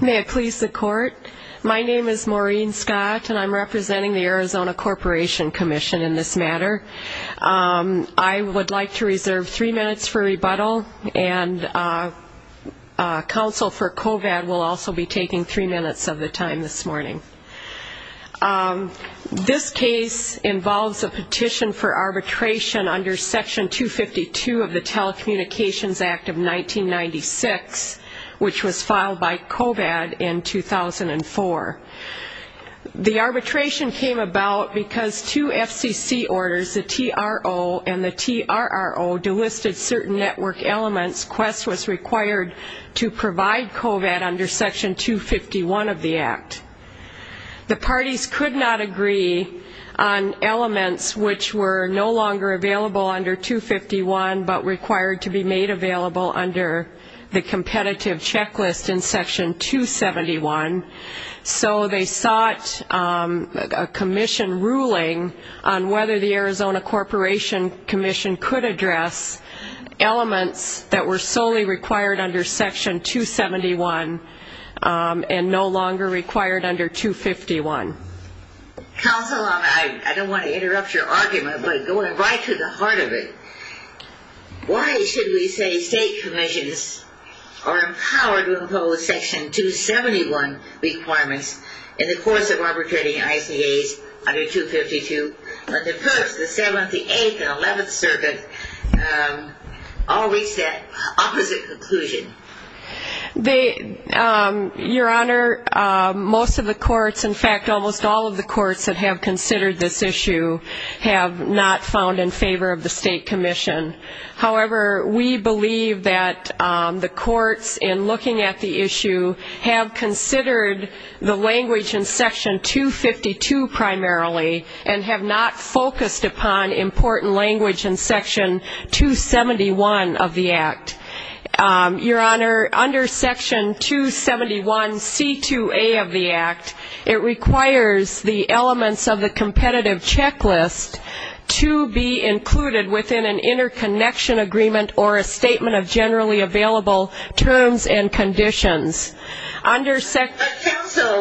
May it please the court. My name is Maureen Scott, and I'm representing the Arizona Corporation Commission in this matter I would like to reserve three minutes for rebuttal and Counsel for COVAD will also be taking three minutes of the time this morning This case involves a petition for arbitration under section 252 of the Telecommunications Act of 1996 which was filed by COVAD in 2004 The arbitration came about because two FCC orders the TRO and the TRRO Delisted certain network elements quest was required to provide COVAD under section 251 of the Act The parties could not agree on The competitive checklist in section 271 so they sought a Commission ruling on whether the Arizona Corporation Commission could address Elements that were solely required under section 271 And no longer required under 251 I don't want to interrupt your argument, but going right to the heart of it Why should we say state commissions are empowered to impose section? 271 requirements in the course of arbitrating ICA's under 252 But the first the seventh the eighth and eleventh circuit All reach that opposite conclusion the your honor Most of the courts in fact almost all of the courts that have considered this issue Have not found in favor of the State Commission however, we believe that The courts in looking at the issue have considered the language in section 252 primarily and have not focused upon important language in section 271 of the Act Your honor under section 271 c2a of the Act it requires the elements of the competitive checklist To be included within an interconnection agreement or a statement of generally available terms and conditions under So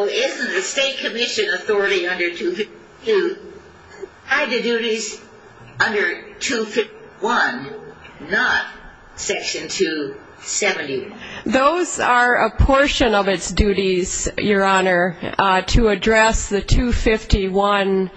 is the State Commission Authority under to Hide the duties under 251 not section 270 Those are a portion of its duties your honor to address the 251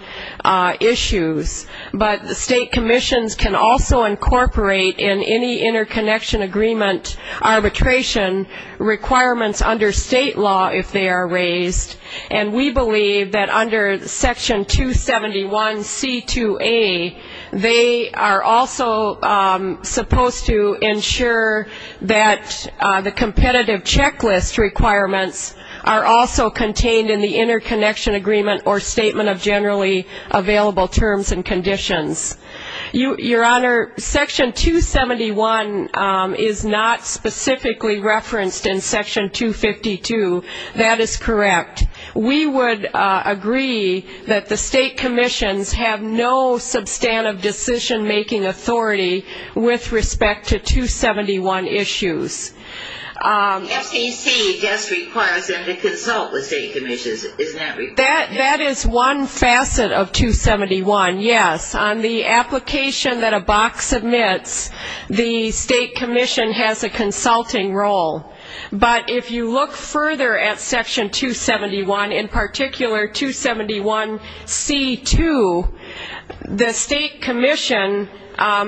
Issues, but the State Commissions can also incorporate in any interconnection agreement arbitration Requirements under state law if they are raised and we believe that under section 271 c2a They are also supposed to ensure that the competitive checklist Requirements are also contained in the interconnection agreement or statement of generally available terms and conditions you your honor section 271 is not specifically referenced in section 252 that is correct We would agree that the State Commissions have no substantive decision-making authority with respect to 271 issues That is one facet of 271 yes on the application that a box admits The State Commission has a consulting role But if you look further at section 271 in particular 271 c2 the State Commission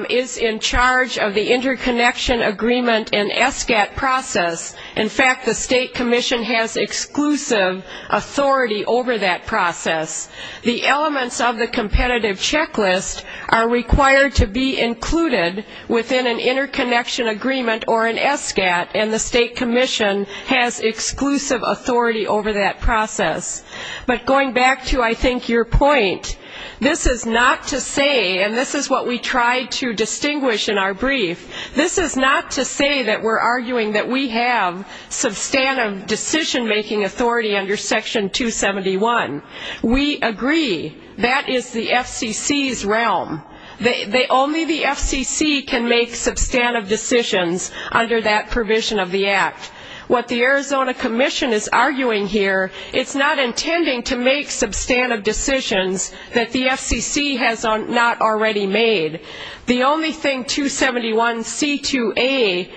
Is in charge of the interconnection agreement and SGAT process in fact the State Commission has exclusive authority over that process the elements of the competitive checklist are required to be included within an interconnection agreement or an SGAT and the State Commission has Exclusive authority over that process But going back to I think your point This is not to say and this is what we tried to distinguish in our brief This is not to say that we're arguing that we have substantive decision-making authority under section 271 we agree that is the FCC's realm They only the FCC can make substantive decisions under that provision of the Act What the Arizona Commission is arguing here? It's not intending to make substantive decisions that the FCC has on not already made The only thing 271 c2a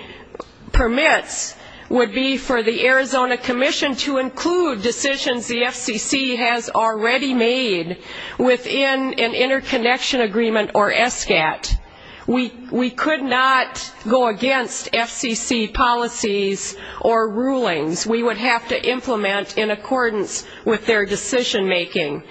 Permits would be for the Arizona Commission to include decisions the FCC has already made Within an interconnection agreement or SGAT We we could not go against FCC policies or rulings We would have to implement in accordance with their decision-making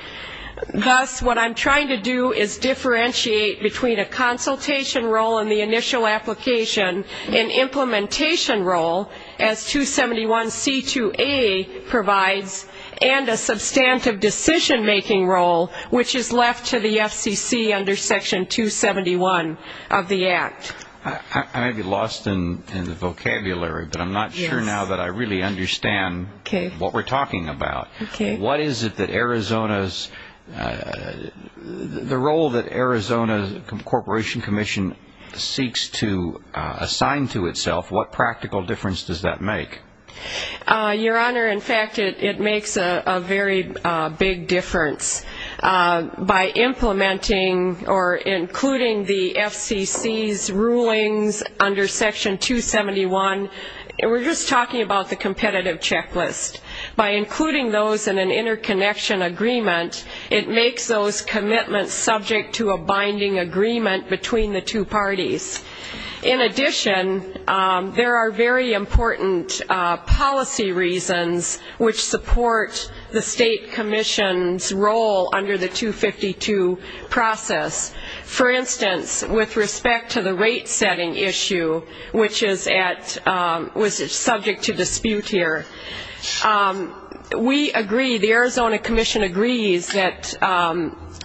Thus what I'm trying to do is differentiate between a consultation role in the initial application and implementation role as 271 c2a Provides and a substantive decision-making role, which is left to the FCC under section 271 of the Act I May be lost in the vocabulary, but I'm not sure now that I really understand. Okay, what we're talking about What is it that Arizona's? The role that Arizona Corporation Commission seeks to assign to itself what practical difference does that make Your honor, in fact, it makes a very big difference by implementing or including the FCC's rulings under section 271 and we're just talking about the competitive checklist by including those in an interconnection agreement It makes those commitments subject to a binding agreement between the two parties in addition There are very important Policy reasons which support the State Commission's role under the 252 process for instance with respect to the rate-setting issue, which is at Was it subject to dispute here? We agree the Arizona Commission agrees that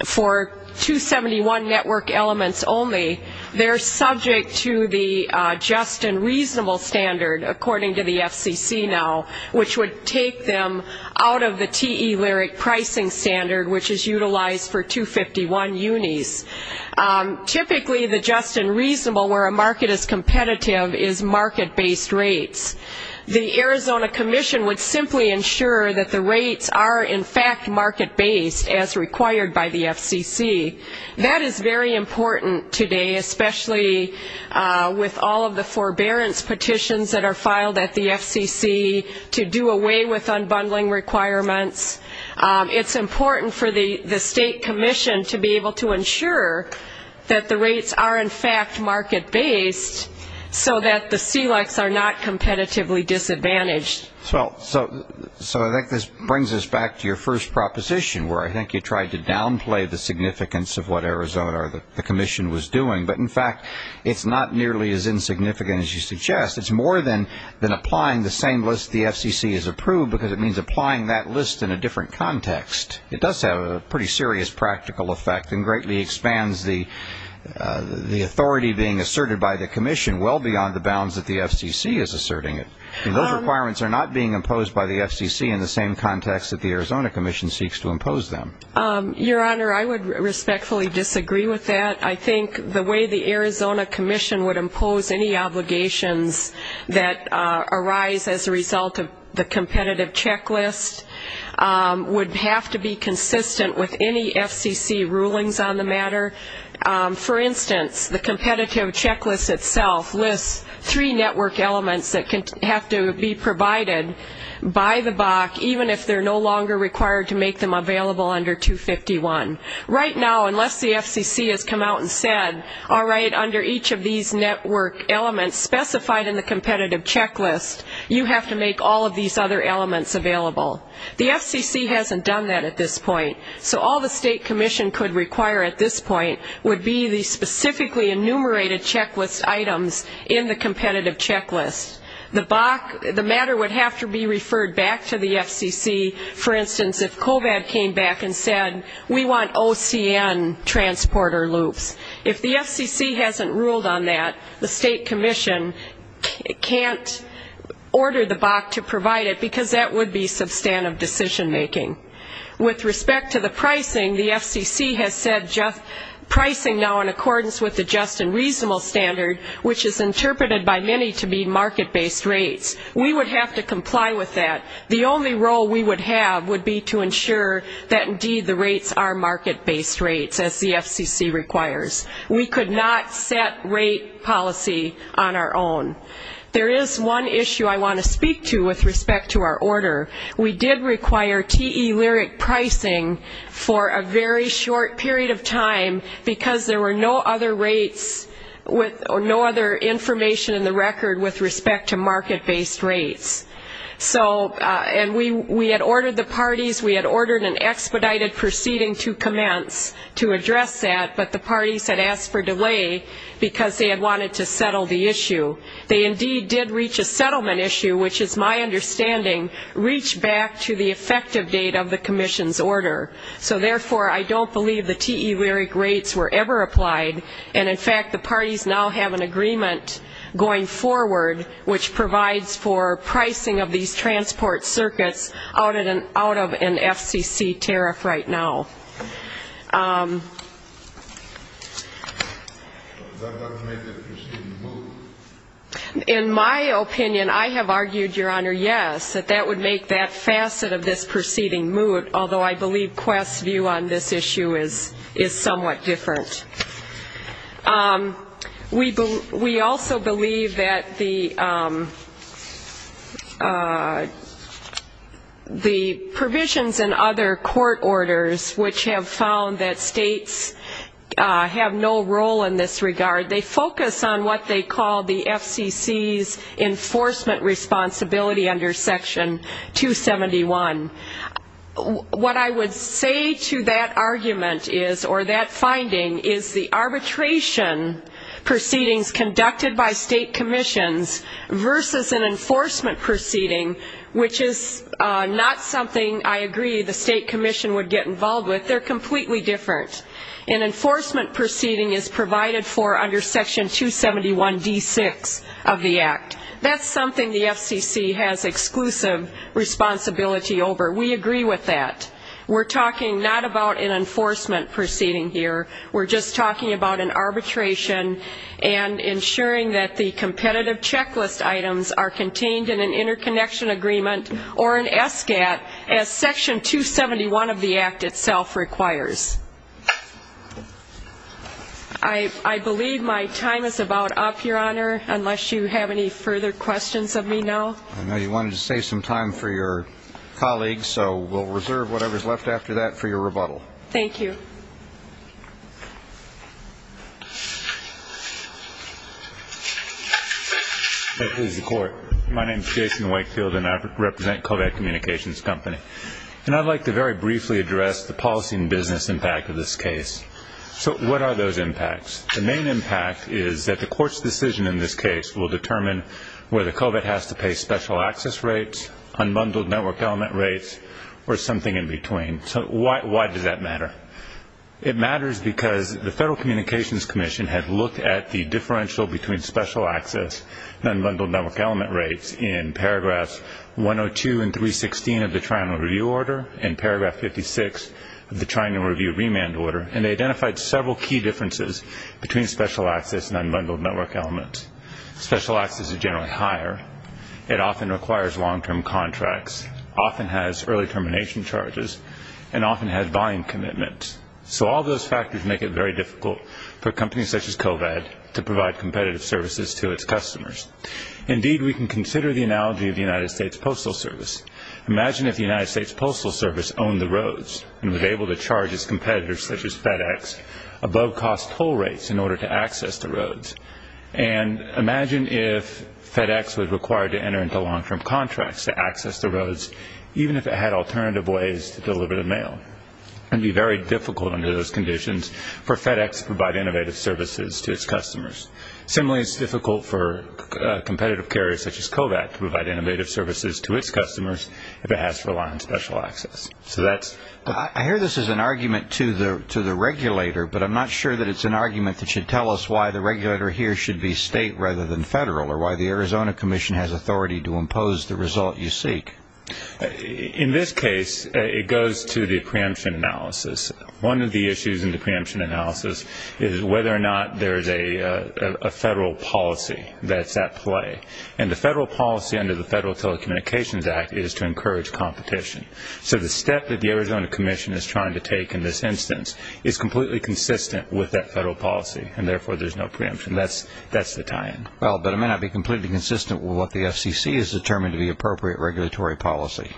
for 271 network elements only they're subject to the Just-and-reasonable standard according to the FCC now which would take them out of the te lyric pricing Standard which is utilized for 251 unis Typically the just-and-reasonable where a market is competitive is market-based rates The Arizona Commission would simply ensure that the rates are in fact market-based as required by the FCC That is very important today, especially With all of the forbearance petitions that are filed at the FCC to do away with unbundling requirements It's important for the the State Commission to be able to ensure that the rates are in fact market-based So that the CELUX are not competitively disadvantaged Well, so so I think this brings us back to your first proposition where I think you tried to downplay the significance of what Arizona The Commission was doing but in fact, it's not nearly as insignificant as you suggest It's more than than applying the same list The FCC is approved because it means applying that list in a different context it does have a pretty serious practical effect and greatly expands the The authority being asserted by the Commission well beyond the bounds that the FCC is asserting it Requirements are not being imposed by the FCC in the same context that the Arizona Commission seeks to impose them Your honor, I would respectfully disagree with that I think the way the Arizona Commission would impose any obligations that Arise as a result of the competitive checklist Would have to be consistent with any FCC rulings on the matter For instance the competitive checklist itself lists three network elements that can have to be provided By the BAC even if they're no longer required to make them available under 251 right now Unless the FCC has come out and said all right under each of these network elements specified in the competitive checklist You have to make all of these other elements available The FCC hasn't done that at this point So all the State Commission could require at this point would be these specifically enumerated checklist items in the competitive Checklist the BAC the matter would have to be referred back to the FCC For instance if COVAD came back and said we want OCN Transporter loops if the FCC hasn't ruled on that the State Commission can't Order the BAC to provide it because that would be substantive decision-making With respect to the pricing the FCC has said just pricing now in accordance with the just and reasonable standard Which is interpreted by many to be market-based rates We would have to comply with that the only role we would have would be to ensure That indeed the rates are market-based rates as the FCC requires We could not set rate policy on our own There is one issue. I want to speak to with respect to our order We did require TE Lyric pricing for a very short period of time because there were no other rates With no other information in the record with respect to market-based rates So and we we had ordered the parties We had ordered an expedited proceeding to commence to address that but the parties had asked for delay Because they had wanted to settle the issue They indeed did reach a settlement issue, which is my understanding reach back to the effective date of the Commission's order So therefore I don't believe the TE Lyric rates were ever applied and in fact the parties now have an agreement Going forward which provides for pricing of these transport circuits out at an out of an FCC tariff right now In my opinion I have argued your honor Yes, that that would make that facet of this proceeding mood, although I believe quest's view on this issue is is somewhat different We believe we also believe that the The provisions and other court orders which have found that states Have no role in this regard. They focus on what they call the FCC's Enforcement responsibility under section 271 What I would say to that argument is or that finding is the arbitration? proceedings conducted by state commissions versus an enforcement proceeding Which is not something I agree the state commission would get involved with they're completely different an Enforcement proceeding is provided for under section 271 d6 of the act That's something the FCC has exclusive responsibility Over we agree with that. We're talking not about an enforcement proceeding here. We're just talking about an arbitration and ensuring that the competitive checklist items are contained in an interconnection agreement or an SGAT as section 271 of the act itself requires I Believe my time is about up your honor unless you have any further questions of me now I know you wanted to save some time for your colleagues. So we'll reserve whatever is left after that for your rebuttal. Thank you My name is Jason Wakefield and I represent Kovac communications company And I'd like to very briefly address the policy and business impact of this case. So what are those impacts? The main impact is that the court's decision in this case will determine where the Kovac has to pay special access rates Unbundled network element rates or something in between. So why does that matter? It matters because the Federal Communications Commission had looked at the differential between special access Unbundled network element rates in paragraphs 102 and 316 of the trial and review order in paragraph 56 Of the trying to review remand order and they identified several key differences between special access and unbundled network element Special access is generally higher It often requires long-term contracts often has early termination charges and often has volume commitment So all those factors make it very difficult for companies such as Kovac to provide competitive services to its customers Indeed, we can consider the analogy of the United States Postal Service Imagine if the United States Postal Service owned the roads and was able to charge its competitors such as FedEx above cost toll rates in order to access the roads and Imagine if FedEx was required to enter into long-term contracts to access the roads Even if it had alternative ways to deliver the mail And be very difficult under those conditions for FedEx to provide innovative services to its customers. Similarly, it's difficult for If it has to rely on special access, so that's I hear this is an argument to the to the regulator But I'm not sure that it's an argument that should tell us why the regulator here should be state rather than federal or why? The Arizona Commission has authority to impose the result you seek In this case it goes to the preemption analysis one of the issues in the preemption analysis is whether or not there is a Federal policy that's at play and the federal policy under the Federal Telecommunications Act is to encourage competition So the step that the Arizona Commission is trying to take in this instance is completely consistent with that federal policy And therefore there's no preemption. That's that's the time Well, but I may not be completely consistent with what the FCC is determined to be appropriate regulatory policy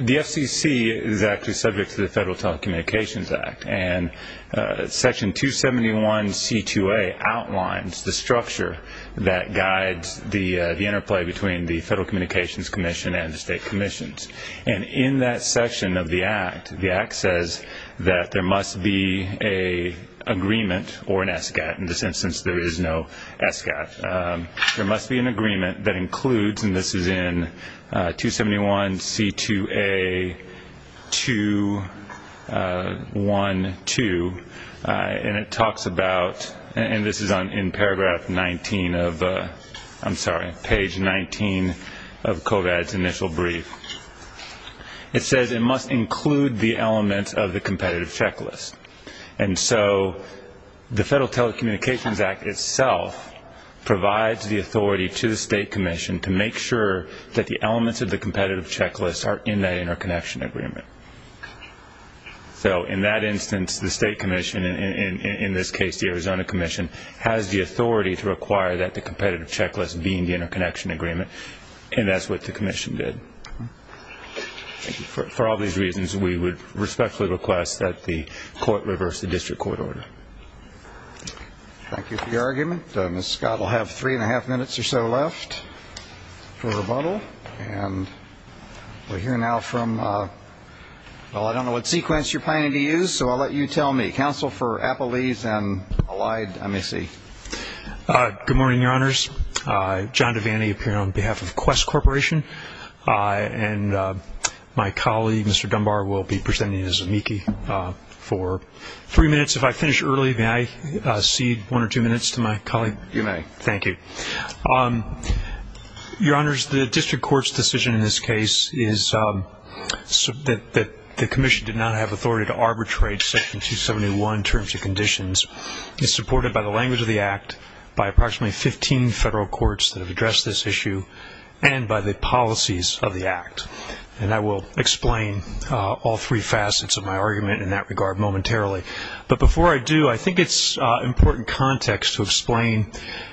the FCC is actually subject to the Federal Telecommunications Act and Section 271 c2a outlines the structure that guides the the interplay between the Federal Communications Commission and the state commissions and in that section of the act the act says that there must be a Agreement or an ESCAP in this instance. There is no ESCAP There must be an agreement that includes and this is in 271 c2a 2 1 2 And it talks about and this is on in paragraph 19 of I'm sorry page 19 of Kovats initial brief It says it must include the elements of the competitive checklist. And so the Federal Telecommunications Act itself Provides the authority to the state commission to make sure that the elements of the competitive checklist are in a interconnection agreement So in that instance the State Commission in this case The Arizona Commission has the authority to require that the competitive checklist being the interconnection agreement, and that's what the Commission did For all these reasons we would respectfully request that the court reverse the district court order Thank you for your argument miss Scott will have three and a half minutes or so left for rebuttal and We're here now from Well, I don't know what sequence you're planning to use so I'll let you tell me counsel for Appalachian allied. Let me see Good morning, your honors John Devaney appear on behalf of quest corporation and My colleague. Mr. Dunbar will be presenting his amici For three minutes if I finish early, may I see one or two minutes to my colleague you may thank you Your honors the district courts decision in this case is That the Commission did not have authority to arbitrate section 271 terms of conditions It's supported by the language of the act by approximately 15 federal courts that have addressed this issue And by the policies of the act and I will explain all three facets of my argument in that regard momentarily But before I do I think it's important context to explain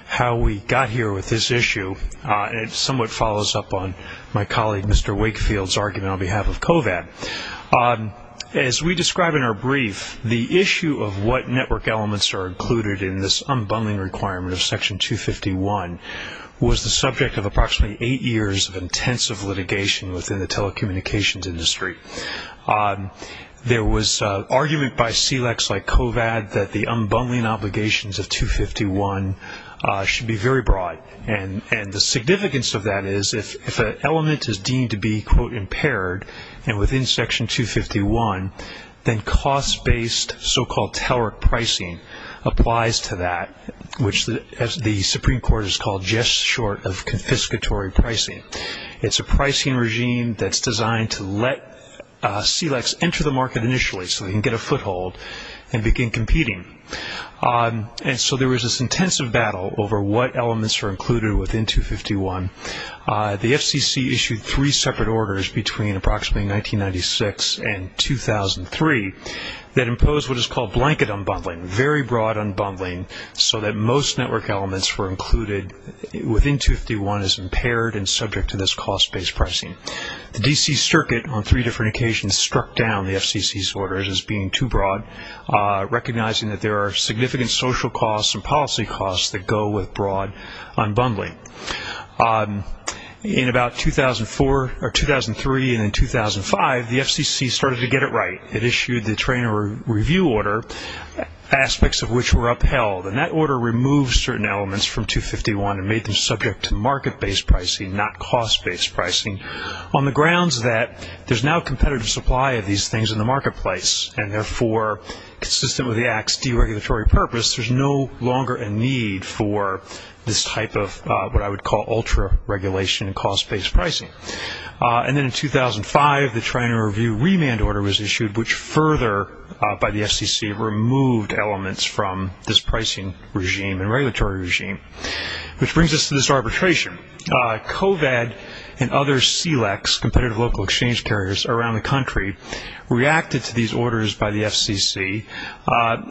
how we got here with this issue And it somewhat follows up on my colleague, mr. Wakefield's argument on behalf of Kovac As we describe in our brief the issue of what network elements are included in this unbundling requirement of section 251 Was the subject of approximately eight years of intensive litigation within the telecommunications industry? There was argument by CLEX like Kovac that the unbundling obligations of 251 Should be very broad and and the significance of that is if an element is deemed to be quote impaired and within section 251 then cost based so-called teller pricing Applies to that which the as the Supreme Court is called just short of confiscatory pricing It's a pricing regime that's designed to let CLEX enter the market initially so they can get a foothold and begin competing And so there was this intensive battle over what elements are included within 251 the FCC issued three separate orders between approximately 1996 and 2003 that imposed what is called blanket unbundling very broad unbundling so that most network elements were included Within 251 is impaired and subject to this cost based pricing The DC Circuit on three different occasions struck down the FCC's orders as being too broad Recognizing that there are significant social costs and policy costs that go with broad unbundling In about 2004 or 2003 and in 2005 the FCC started to get it right it issued the trainer review order Aspects of which were upheld and that order removed certain elements from 251 and made them subject to market based pricing not cost based pricing on the grounds that there's now competitive supply of these things in the marketplace and therefore consistent with the acts deregulatory purpose There's no longer a need for this type of what I would call ultra regulation and cost based pricing And then in 2005 the trainer review remand order was issued which further By the FCC removed elements from this pricing regime and regulatory regime Which brings us to this arbitration Coved and other CLEX competitive local exchange carriers around the country Reacted to these orders by the FCC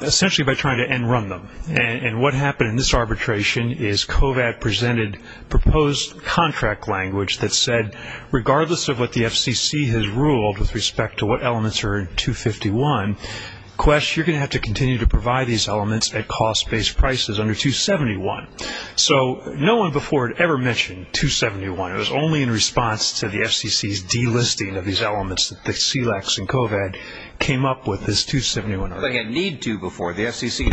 Essentially by trying to end run them and what happened in this arbitration is cove ad presented proposed Contract language that said regardless of what the FCC has ruled with respect to what elements are in 251 Quest you're gonna have to continue to provide these elements at cost based prices under 271 So no one before it ever mentioned 271 Only in response to the FCC's delisting of these elements that the CLEX and cove ed came up with this 271 They had need to before the FCC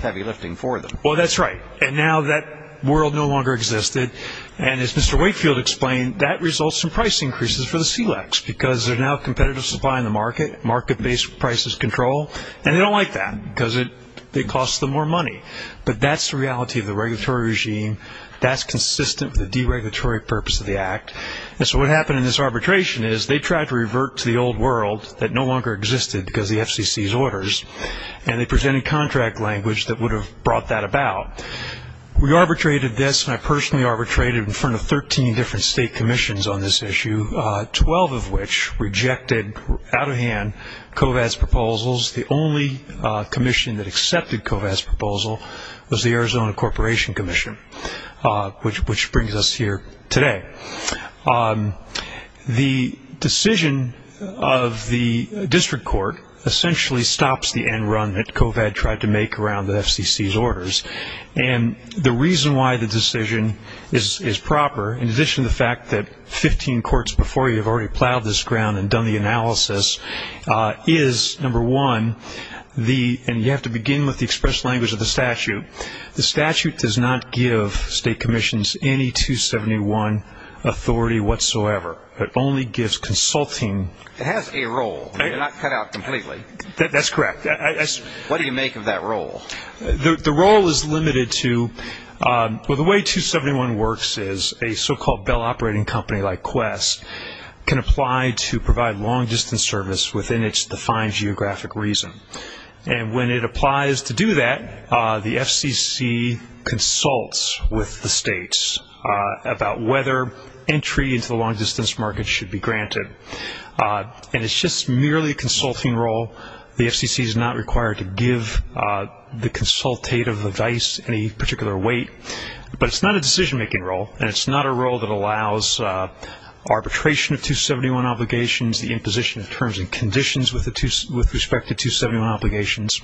heavy lifting for them. Well, that's right And now that world no longer existed and as mr Wakefield explained that results in price increases for the CLEX because they're now competitive supply in the market market based prices control and they don't like That because it they cost them more money, but that's the reality of the regulatory regime That's consistent with the deregulatory purpose of the act and so what happened in this arbitration is they tried to revert to the old world that no longer existed because the FCC's orders and They presented contract language that would have brought that about We arbitrated this and I personally arbitrated in front of 13 different state commissions on this issue 12 of which rejected out of hand covets proposals the only Commission that accepted covets proposal was the Arizona Corporation Commission Which which brings us here today? The decision of the district court essentially stops the end run that covet tried to make around the FCC's orders and The reason why the decision is is proper in addition to the fact that 15 courts before you have already plowed this ground and done the analysis Is number one the and you have to begin with the express language of the statute The statute does not give state commissions any 271 Authority whatsoever, but only gives consulting it has a role That's correct, yes, what do you make of that role the role is limited to Well, the way 271 works is a so-called Bell operating company like quest Can apply to provide long-distance service within its defined geographic reason and when it applies to do that the FCC consults with the states About whether entry into the long-distance market should be granted And it's just merely a consulting role. The FCC is not required to give The consultative advice any particular weight, but it's not a decision-making role and it's not a role that allows Arbitration of 271 obligations the imposition of terms and conditions with the two with respect to 271 obligations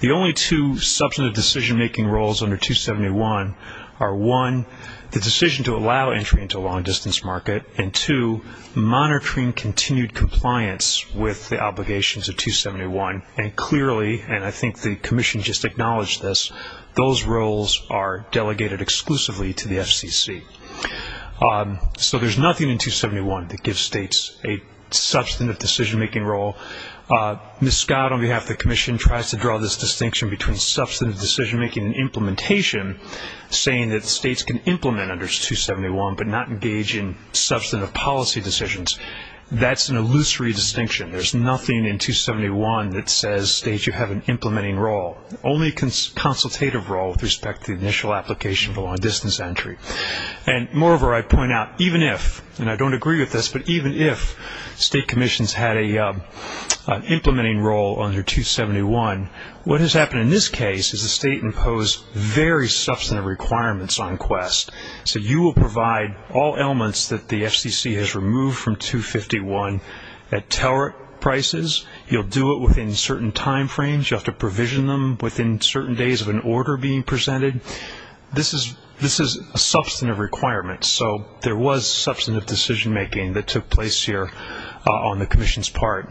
The only two substantive decision-making roles under 271 are one the decision to allow entry into a long-distance market and to monitoring continued compliance with the obligations of 271 and clearly and I think the Commission just acknowledged this Those roles are delegated exclusively to the FCC So there's nothing in 271 that gives states a substantive decision-making role Miss Scott on behalf the Commission tries to draw this distinction between substantive decision-making and implementation Saying that states can implement under 271 but not engage in substantive policy decisions. That's an illusory distinction There's nothing in 271 that says states you have an implementing role only consultative role with respect to the initial application for long-distance entry and moreover I point out even if and I don't agree with this, but even if state commissions had a Implementing role under 271 what has happened in this case is the state imposed very substantive requirements on quest So you will provide all elements that the FCC has removed from 251 at teller Prices you'll do it within certain time frames. You have to provision them within certain days of an order being presented This is this is a substantive requirement. So there was substantive decision-making that took place here on the Commission's part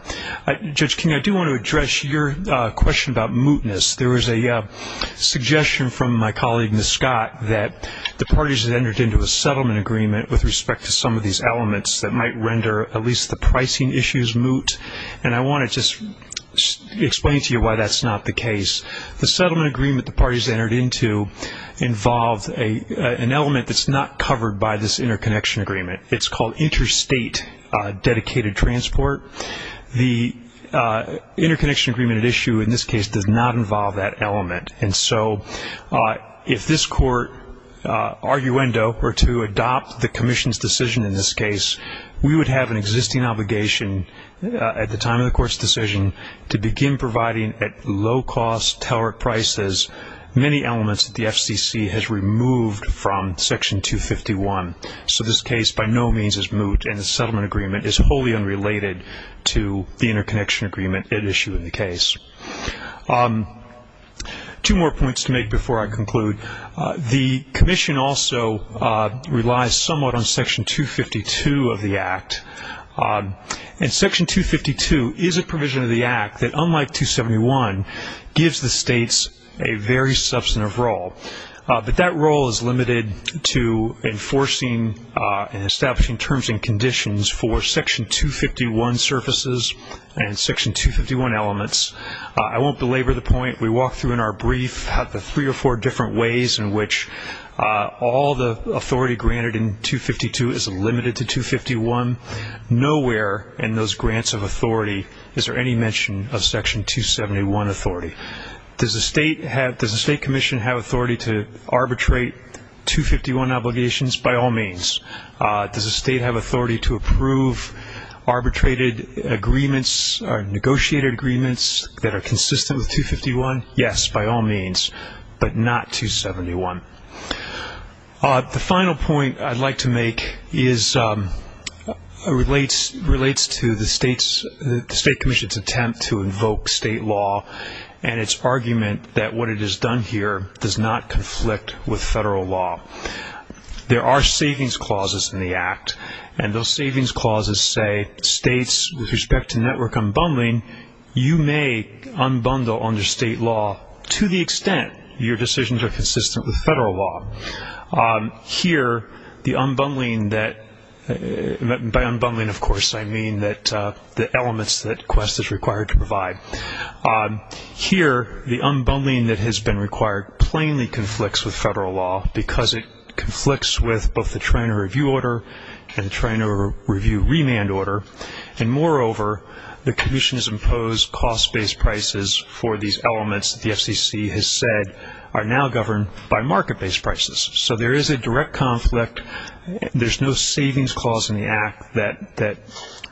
Judge King. I do want to address your question about mootness. There was a Suggestion from my colleague Miss Scott that the parties that entered into a settlement agreement with respect to some of these elements that might render at least the pricing issues moot and I want to just Explain to you why that's not the case the settlement agreement the parties entered into Involved a an element that's not covered by this interconnection agreement. It's called interstate Dedicated transport the Interconnection agreement at issue in this case does not involve that element. And so if this court Arguendo were to adopt the Commission's decision in this case. We would have an existing obligation At the time of the court's decision to begin providing at low-cost teller prices Many elements that the FCC has removed from section 251 So this case by no means is moot and the settlement agreement is wholly unrelated to the interconnection agreement at issue in the case Two more points to make before I conclude the Commission also relies somewhat on section 252 of the act And section 252 is a provision of the act that unlike 271 Gives the state's a very substantive role But that role is limited to Enforcing and establishing terms and conditions for section 251 surfaces and section 251 elements I won't belabor the point we walk through in our brief have the three or four different ways in which All the authority granted in 252 is limited to 251 Nowhere in those grants of authority. Is there any mention of section 271 authority? Does the state have does the State Commission have authority to arbitrate? 251 obligations by all means Does the state have authority to approve? arbitrated agreements Negotiated agreements that are consistent with 251. Yes by all means but not 271 the final point I'd like to make is Relates relates to the state's State Commission's attempt to invoke state law and It's argument that what it has done here does not conflict with federal law There are savings clauses in the act and those savings clauses say states with respect to network unbundling You may unbundle under state law to the extent your decisions are consistent with federal law here the unbundling that By unbundling, of course, I mean that the elements that quest is required to provide Here the unbundling that has been required plainly conflicts with federal law because it Conflicts with both the train or review order and trying to review remand order and moreover The Commission has imposed cost based prices for these elements The FCC has said are now governed by market-based prices. So there is a direct conflict there's no savings clause in the act that that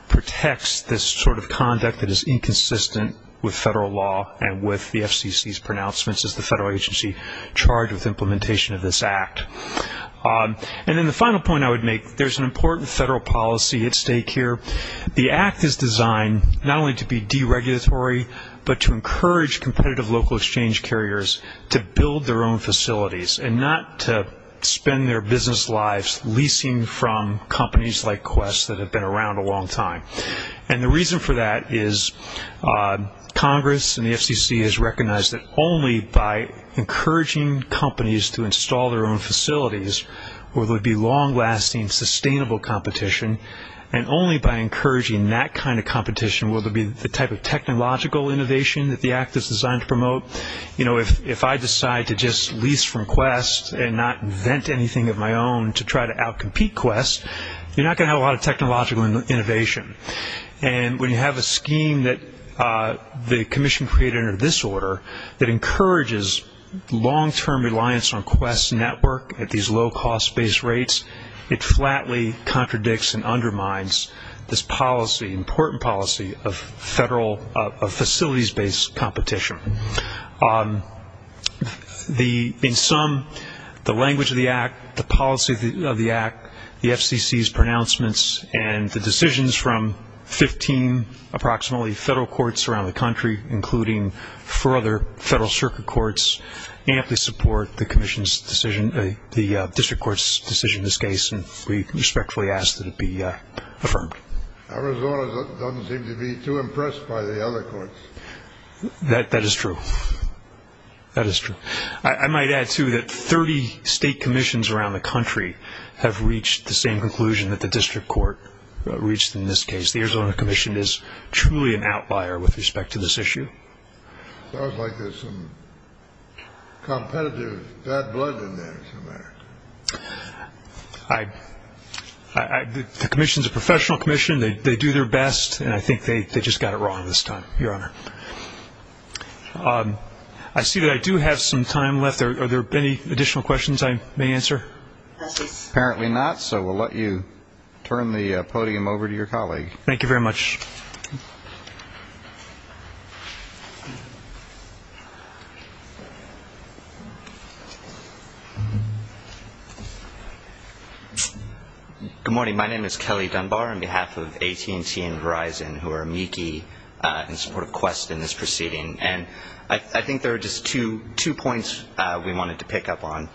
Contexts this sort of conduct that is inconsistent with federal law and with the FCC's pronouncements as the federal agency charged with implementation of this act And then the final point I would make there's an important federal policy at stake here The act is designed not only to be deregulatory but to encourage competitive local exchange carriers to build their own facilities and not to Spend their business lives leasing from companies like quest that have been around a long time and the reason for that is Congress and the FCC has recognized that only by Encouraging companies to install their own facilities where there would be long lasting sustainable competition And only by encouraging that kind of competition will there be the type of technological innovation that the act is designed to promote You know If I decide to just lease from quest and not vent anything of my own to try to out-compete quest You're not gonna have a lot of technological innovation and when you have a scheme that the Commission created under this order that encourages Long-term reliance on quest network at these low cost based rates it flatly Contradicts and undermines this policy important policy of federal facilities based competition On The in some the language of the act the policy of the act the FCC's pronouncements and the decisions from 15 Approximately federal courts around the country including four other federal circuit courts Amply support the Commission's decision the district courts decision this case and we respectfully ask that it be affirmed Arizona doesn't seem to be too impressed by the other courts That that is true That is true I might add to that 30 state commissions around the country have reached the same conclusion that the district court Reached in this case. The Arizona Commission is truly an outlier with respect to this issue I The Commission's a professional Commission they do their best and I think they they just got it wrong this time your honor I see that I do have some time left there. Are there any additional questions? I may answer Apparently not. So we'll let you turn the podium over to your colleague. Thank you very much Good Morning my name is Kelly Dunbar on behalf of AT&T and Verizon who are amici In support of quest in this proceeding and I think there are just two two points. We wanted to pick up on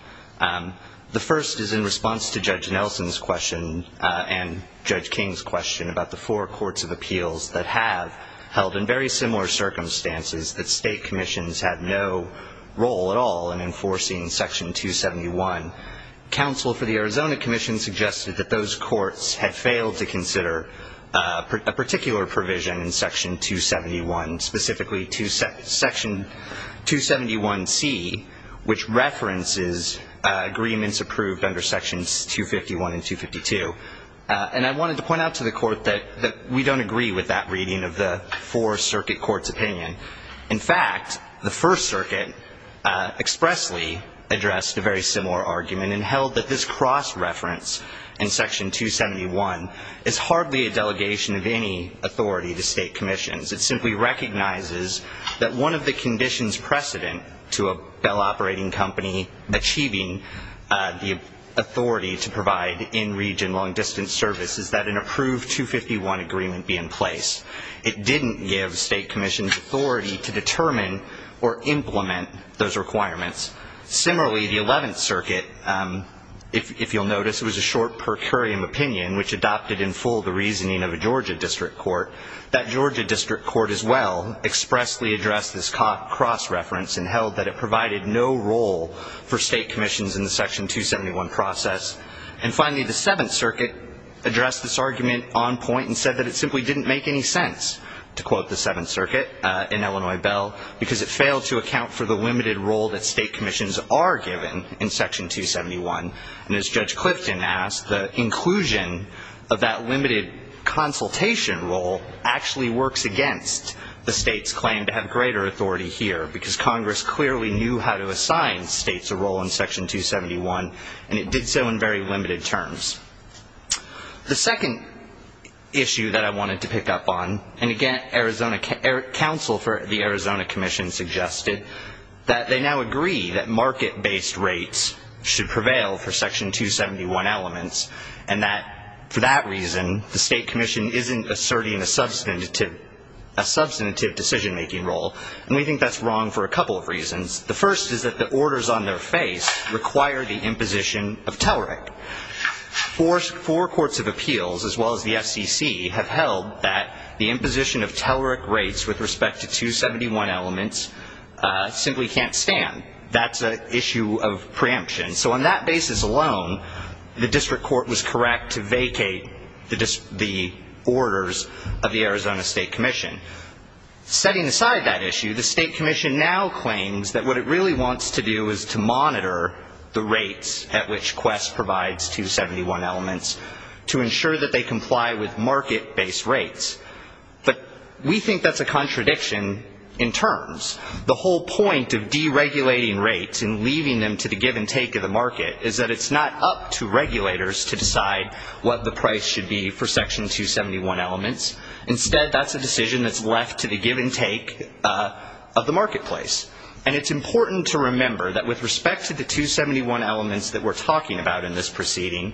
the first is in response to judge Nelson's question and judge King's question about the four courts of appeals that have Held in very similar circumstances that state commissions had no role at all in enforcing section 271 counsel for the Arizona Commission suggested that those courts had failed to consider a particular provision in section 271 specifically to set section 271 C which references agreements approved under sections 251 and 252 And I wanted to point out to the court that that we don't agree with that reading of the four circuit courts opinion in fact the First Circuit expressly addressed a very similar argument and held that this cross-reference in section 271 is hardly a delegation of any authority to state commissions It simply recognizes that one of the conditions precedent to a Bell operating company achieving The authority to provide in region long-distance service is that an approved 251 agreement be in place It didn't give state commissions authority to determine or implement those requirements similarly the 11th circuit If you'll notice it was a short per curiam opinion which adopted in full the reasoning of a Georgia District Court That Georgia District Court as well Expressly addressed this caught cross-reference and held that it provided no role for state commissions in the section 271 process and Finally the 7th Circuit Addressed this argument on point and said that it simply didn't make any sense To quote the 7th Circuit in Illinois Bell because it failed to account for the limited role that state commissions are given in section 271 and as Judge Clifton asked the inclusion of that limited Consultation role actually works against the state's claim to have greater authority here because Congress clearly knew how to assign States a role in section 271 and it did so in very limited terms the second Issue that I wanted to pick up on and again Arizona Council for the Arizona Commission Suggested that they now agree that market-based rates should prevail for section 271 elements and that for that reason the State Commission isn't asserting a substantive a Substantive decision-making role and we think that's wrong for a couple of reasons The first is that the orders on their face require the imposition of tellerick Force four courts of appeals as well as the FCC have held that the imposition of tellerick rates with respect to 271 elements Simply can't stand that's a issue of preemption. So on that basis alone The district court was correct to vacate the dis the orders of the Arizona State Commission Setting aside that issue the State Commission now claims that what it really wants to do is to monitor The rates at which quest provides 271 elements to ensure that they comply with market-based rates But we think that's a contradiction in terms the whole point of deregulating Rates and leaving them to the give-and-take of the market is that it's not up to regulators to decide What the price should be for section 271 elements instead? That's a decision that's left to the give-and-take Of the marketplace and it's important to remember that with respect to the 271 elements that we're talking about in this proceeding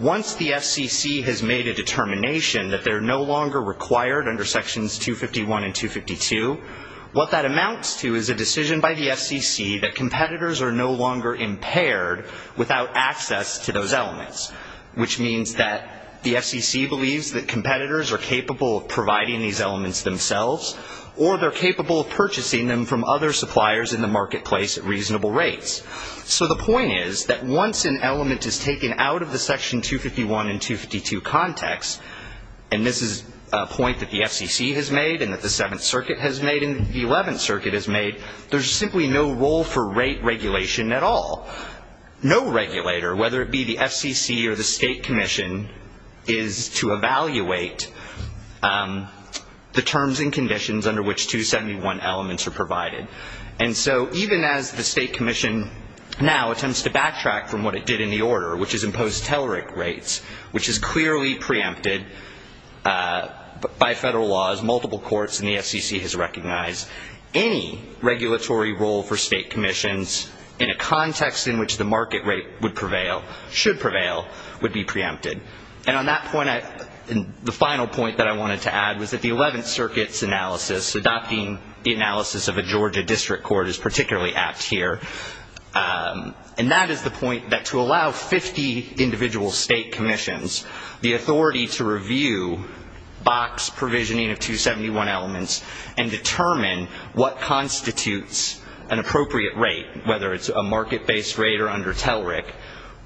Once the FCC has made a determination that they're no longer required under sections 251 and 252 What that amounts to is a decision by the FCC that competitors are no longer impaired without access to those elements Which means that the FCC believes that competitors are capable of providing these elements themselves Or they're capable of purchasing them from other suppliers in the marketplace at reasonable rates so the point is that once an element is taken out of the section 251 and 252 context and This is a point that the FCC has made and that the Seventh Circuit has made in the Eleventh Circuit has made There's simply no role for rate regulation at all No regulator whether it be the FCC or the State Commission is to evaluate The terms and conditions under which 271 elements are provided and so even as the State Commission Now attempts to backtrack from what it did in the order, which is imposed telleric rates, which is clearly preempted But by federal laws multiple courts and the FCC has recognized any Regulatory role for state commissions in a context in which the market rate would prevail should prevail would be preempted And on that point I in the final point that I wanted to add was that the Eleventh Circuit's analysis Adopting the analysis of a Georgia district court is particularly apt here And that is the point that to allow 50 individual state commissions the authority to review box provisioning of 271 elements and Determine what constitutes an appropriate rate whether it's a market-based rate or under telleric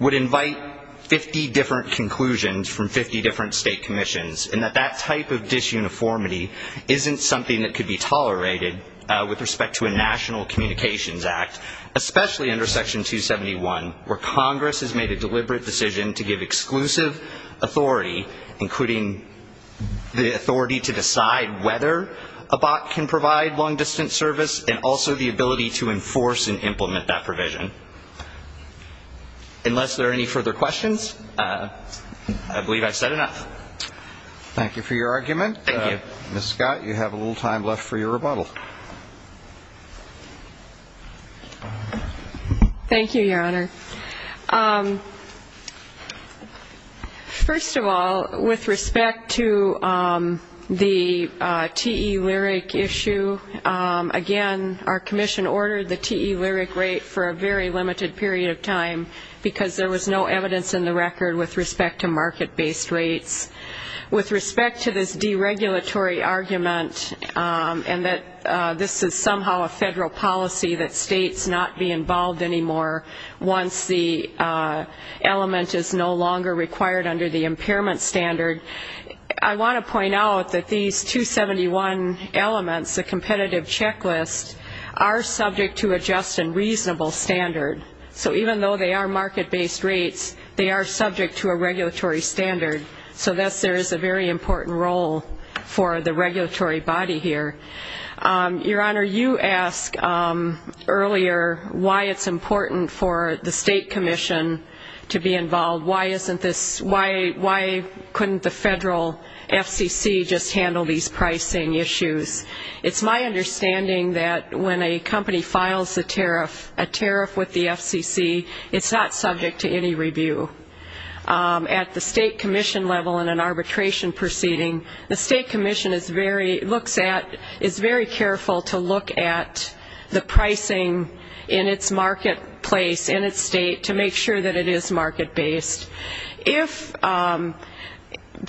would invite 50 different conclusions from 50 different state commissions and that that type of disuniformity Isn't something that could be tolerated with respect to a National Communications Act Especially under section 271 where Congress has made a deliberate decision to give exclusive authority including The authority to decide whether a bot can provide long-distance service and also the ability to enforce and implement that provision Unless there are any further questions I Believe I've said enough Thank you for your argument. Thank you. Miss Scott. You have a little time left for your rebuttal Thank you, your honor First of all with respect to the t-e-lyric issue Again, our Commission ordered the t-e-lyric rate for a very limited period of time Because there was no evidence in the record with respect to market-based rates with respect to this deregulatory argument And that this is somehow a federal policy that states not be involved anymore once the Element is no longer required under the impairment standard. I want to point out that these 271 elements the competitive checklist are subject to adjust and reasonable standard So even though they are market-based rates, they are subject to a regulatory standard So that's there is a very important role for the regulatory body here Your honor you asked Earlier why it's important for the State Commission to be involved. Why isn't this why why couldn't the federal? FCC just handle these pricing issues It's my understanding that when a company files the tariff a tariff with the FCC. It's not subject to any review At the State Commission level in an arbitration proceeding the State Commission is very looks at is very careful to look at the pricing in its marketplace in its state to make sure that it is market-based if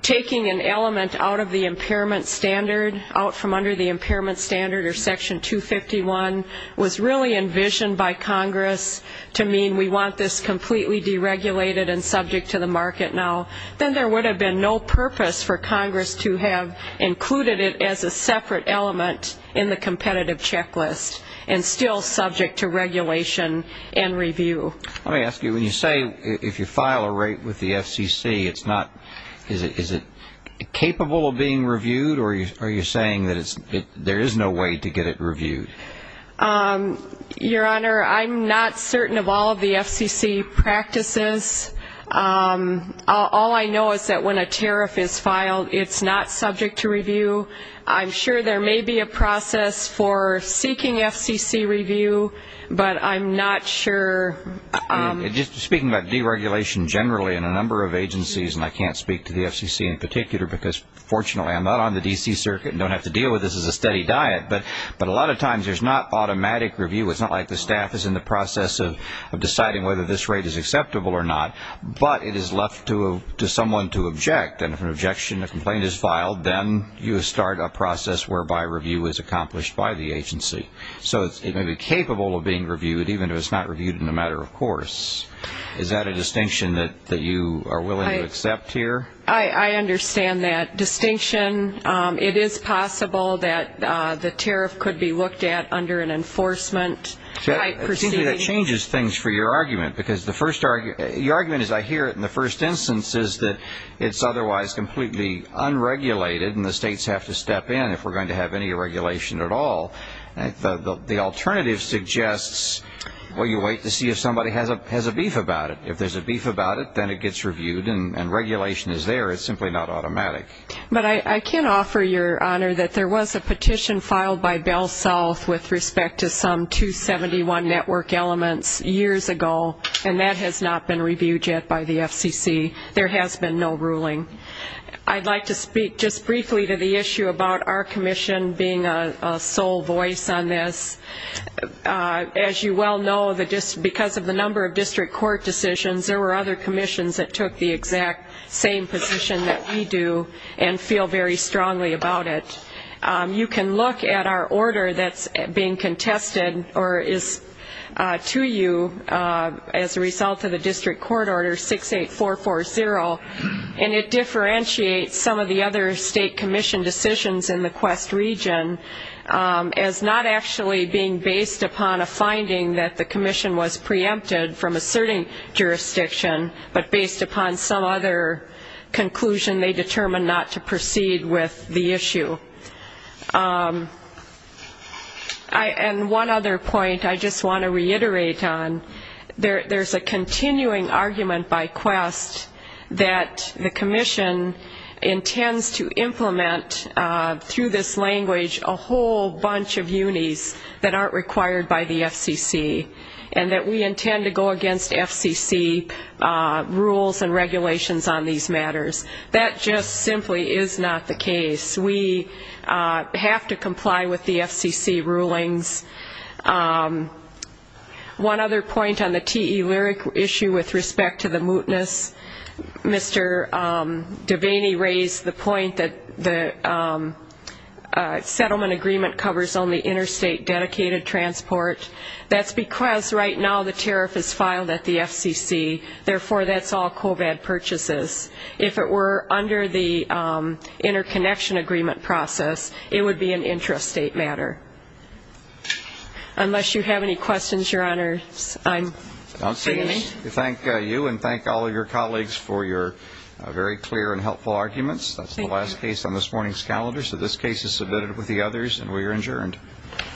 Taking an element out of the impairment standard out from under the impairment standard or section 251 was really envisioned by Congress to mean we want this completely Deregulated and subject to the market now Then there would have been no purpose for Congress to have Included it as a separate element in the competitive checklist and still subject to regulation and review Let me ask you when you say if you file a rate with the FCC. It's not is it is it? Capable of being reviewed or you are you saying that it's there is no way to get it reviewed Your honor, I'm not certain of all of the FCC practices All I know is that when a tariff is filed it's not subject to review I'm sure there may be a process for seeking FCC review, but I'm not sure Just speaking about deregulation generally in a number of agencies and I can't speak to the FCC in particular because fortunately I'm not on the DC circuit and don't have to deal with this as a steady diet But but a lot of times there's not automatic review It's not like the staff is in the process of deciding whether this rate is acceptable or not But it is left to to someone to object and if an objection a complaint is filed Then you start a process whereby review is accomplished by the agency So it may be capable of being reviewed even if it's not reviewed in a matter Of course, is that a distinction that that you are willing to accept here? I I understand that distinction It is possible that the tariff could be looked at under an enforcement Changes things for your argument because the first argument is I hear it in the first instance is that it's otherwise completely Unregulated and the states have to step in if we're going to have any regulation at all the alternative suggests Will you wait to see if somebody has a beef about it? If there's a beef about it, then it gets reviewed and regulation is there Automatic but I can't offer your honor that there was a petition filed by Bell South with respect to some 271 network elements years ago and that has not been reviewed yet by the FCC. There has been no ruling I'd like to speak just briefly to the issue about our Commission being a sole voice on this As you well know that just because of the number of district court decisions There were other commissions that took the exact same position that we do and feel very strongly about it You can look at our order that's being contested or is to you As a result of the district court order six eight four four zero and it Differentiates some of the other state commission decisions in the quest region As not actually being based upon a finding that the Commission was preempted from asserting Jurisdiction, but based upon some other Conclusion they determined not to proceed with the issue And one other point I just want to reiterate on there there's a continuing argument by quest that the Commission intends to implement Through this language a whole bunch of unis that aren't required by the FCC and that we intend to go against FCC rules and regulations on these matters that just simply is not the case we Have to comply with the FCC rulings One other point on the te lyric issue with respect to the mootness Mr. Devaney raised the point that the Settlement agreement covers only interstate dedicated transport That's because right now the tariff is filed at the FCC therefore that's all Kovac purchases if it were under the Interconnection agreement process it would be an intrastate matter Unless you have any questions your honor I'm don't say you thank you and thank all of your colleagues for your very clear and helpful arguments That's the last case on this morning's calendar. So this case is submitted with the others and we are adjourned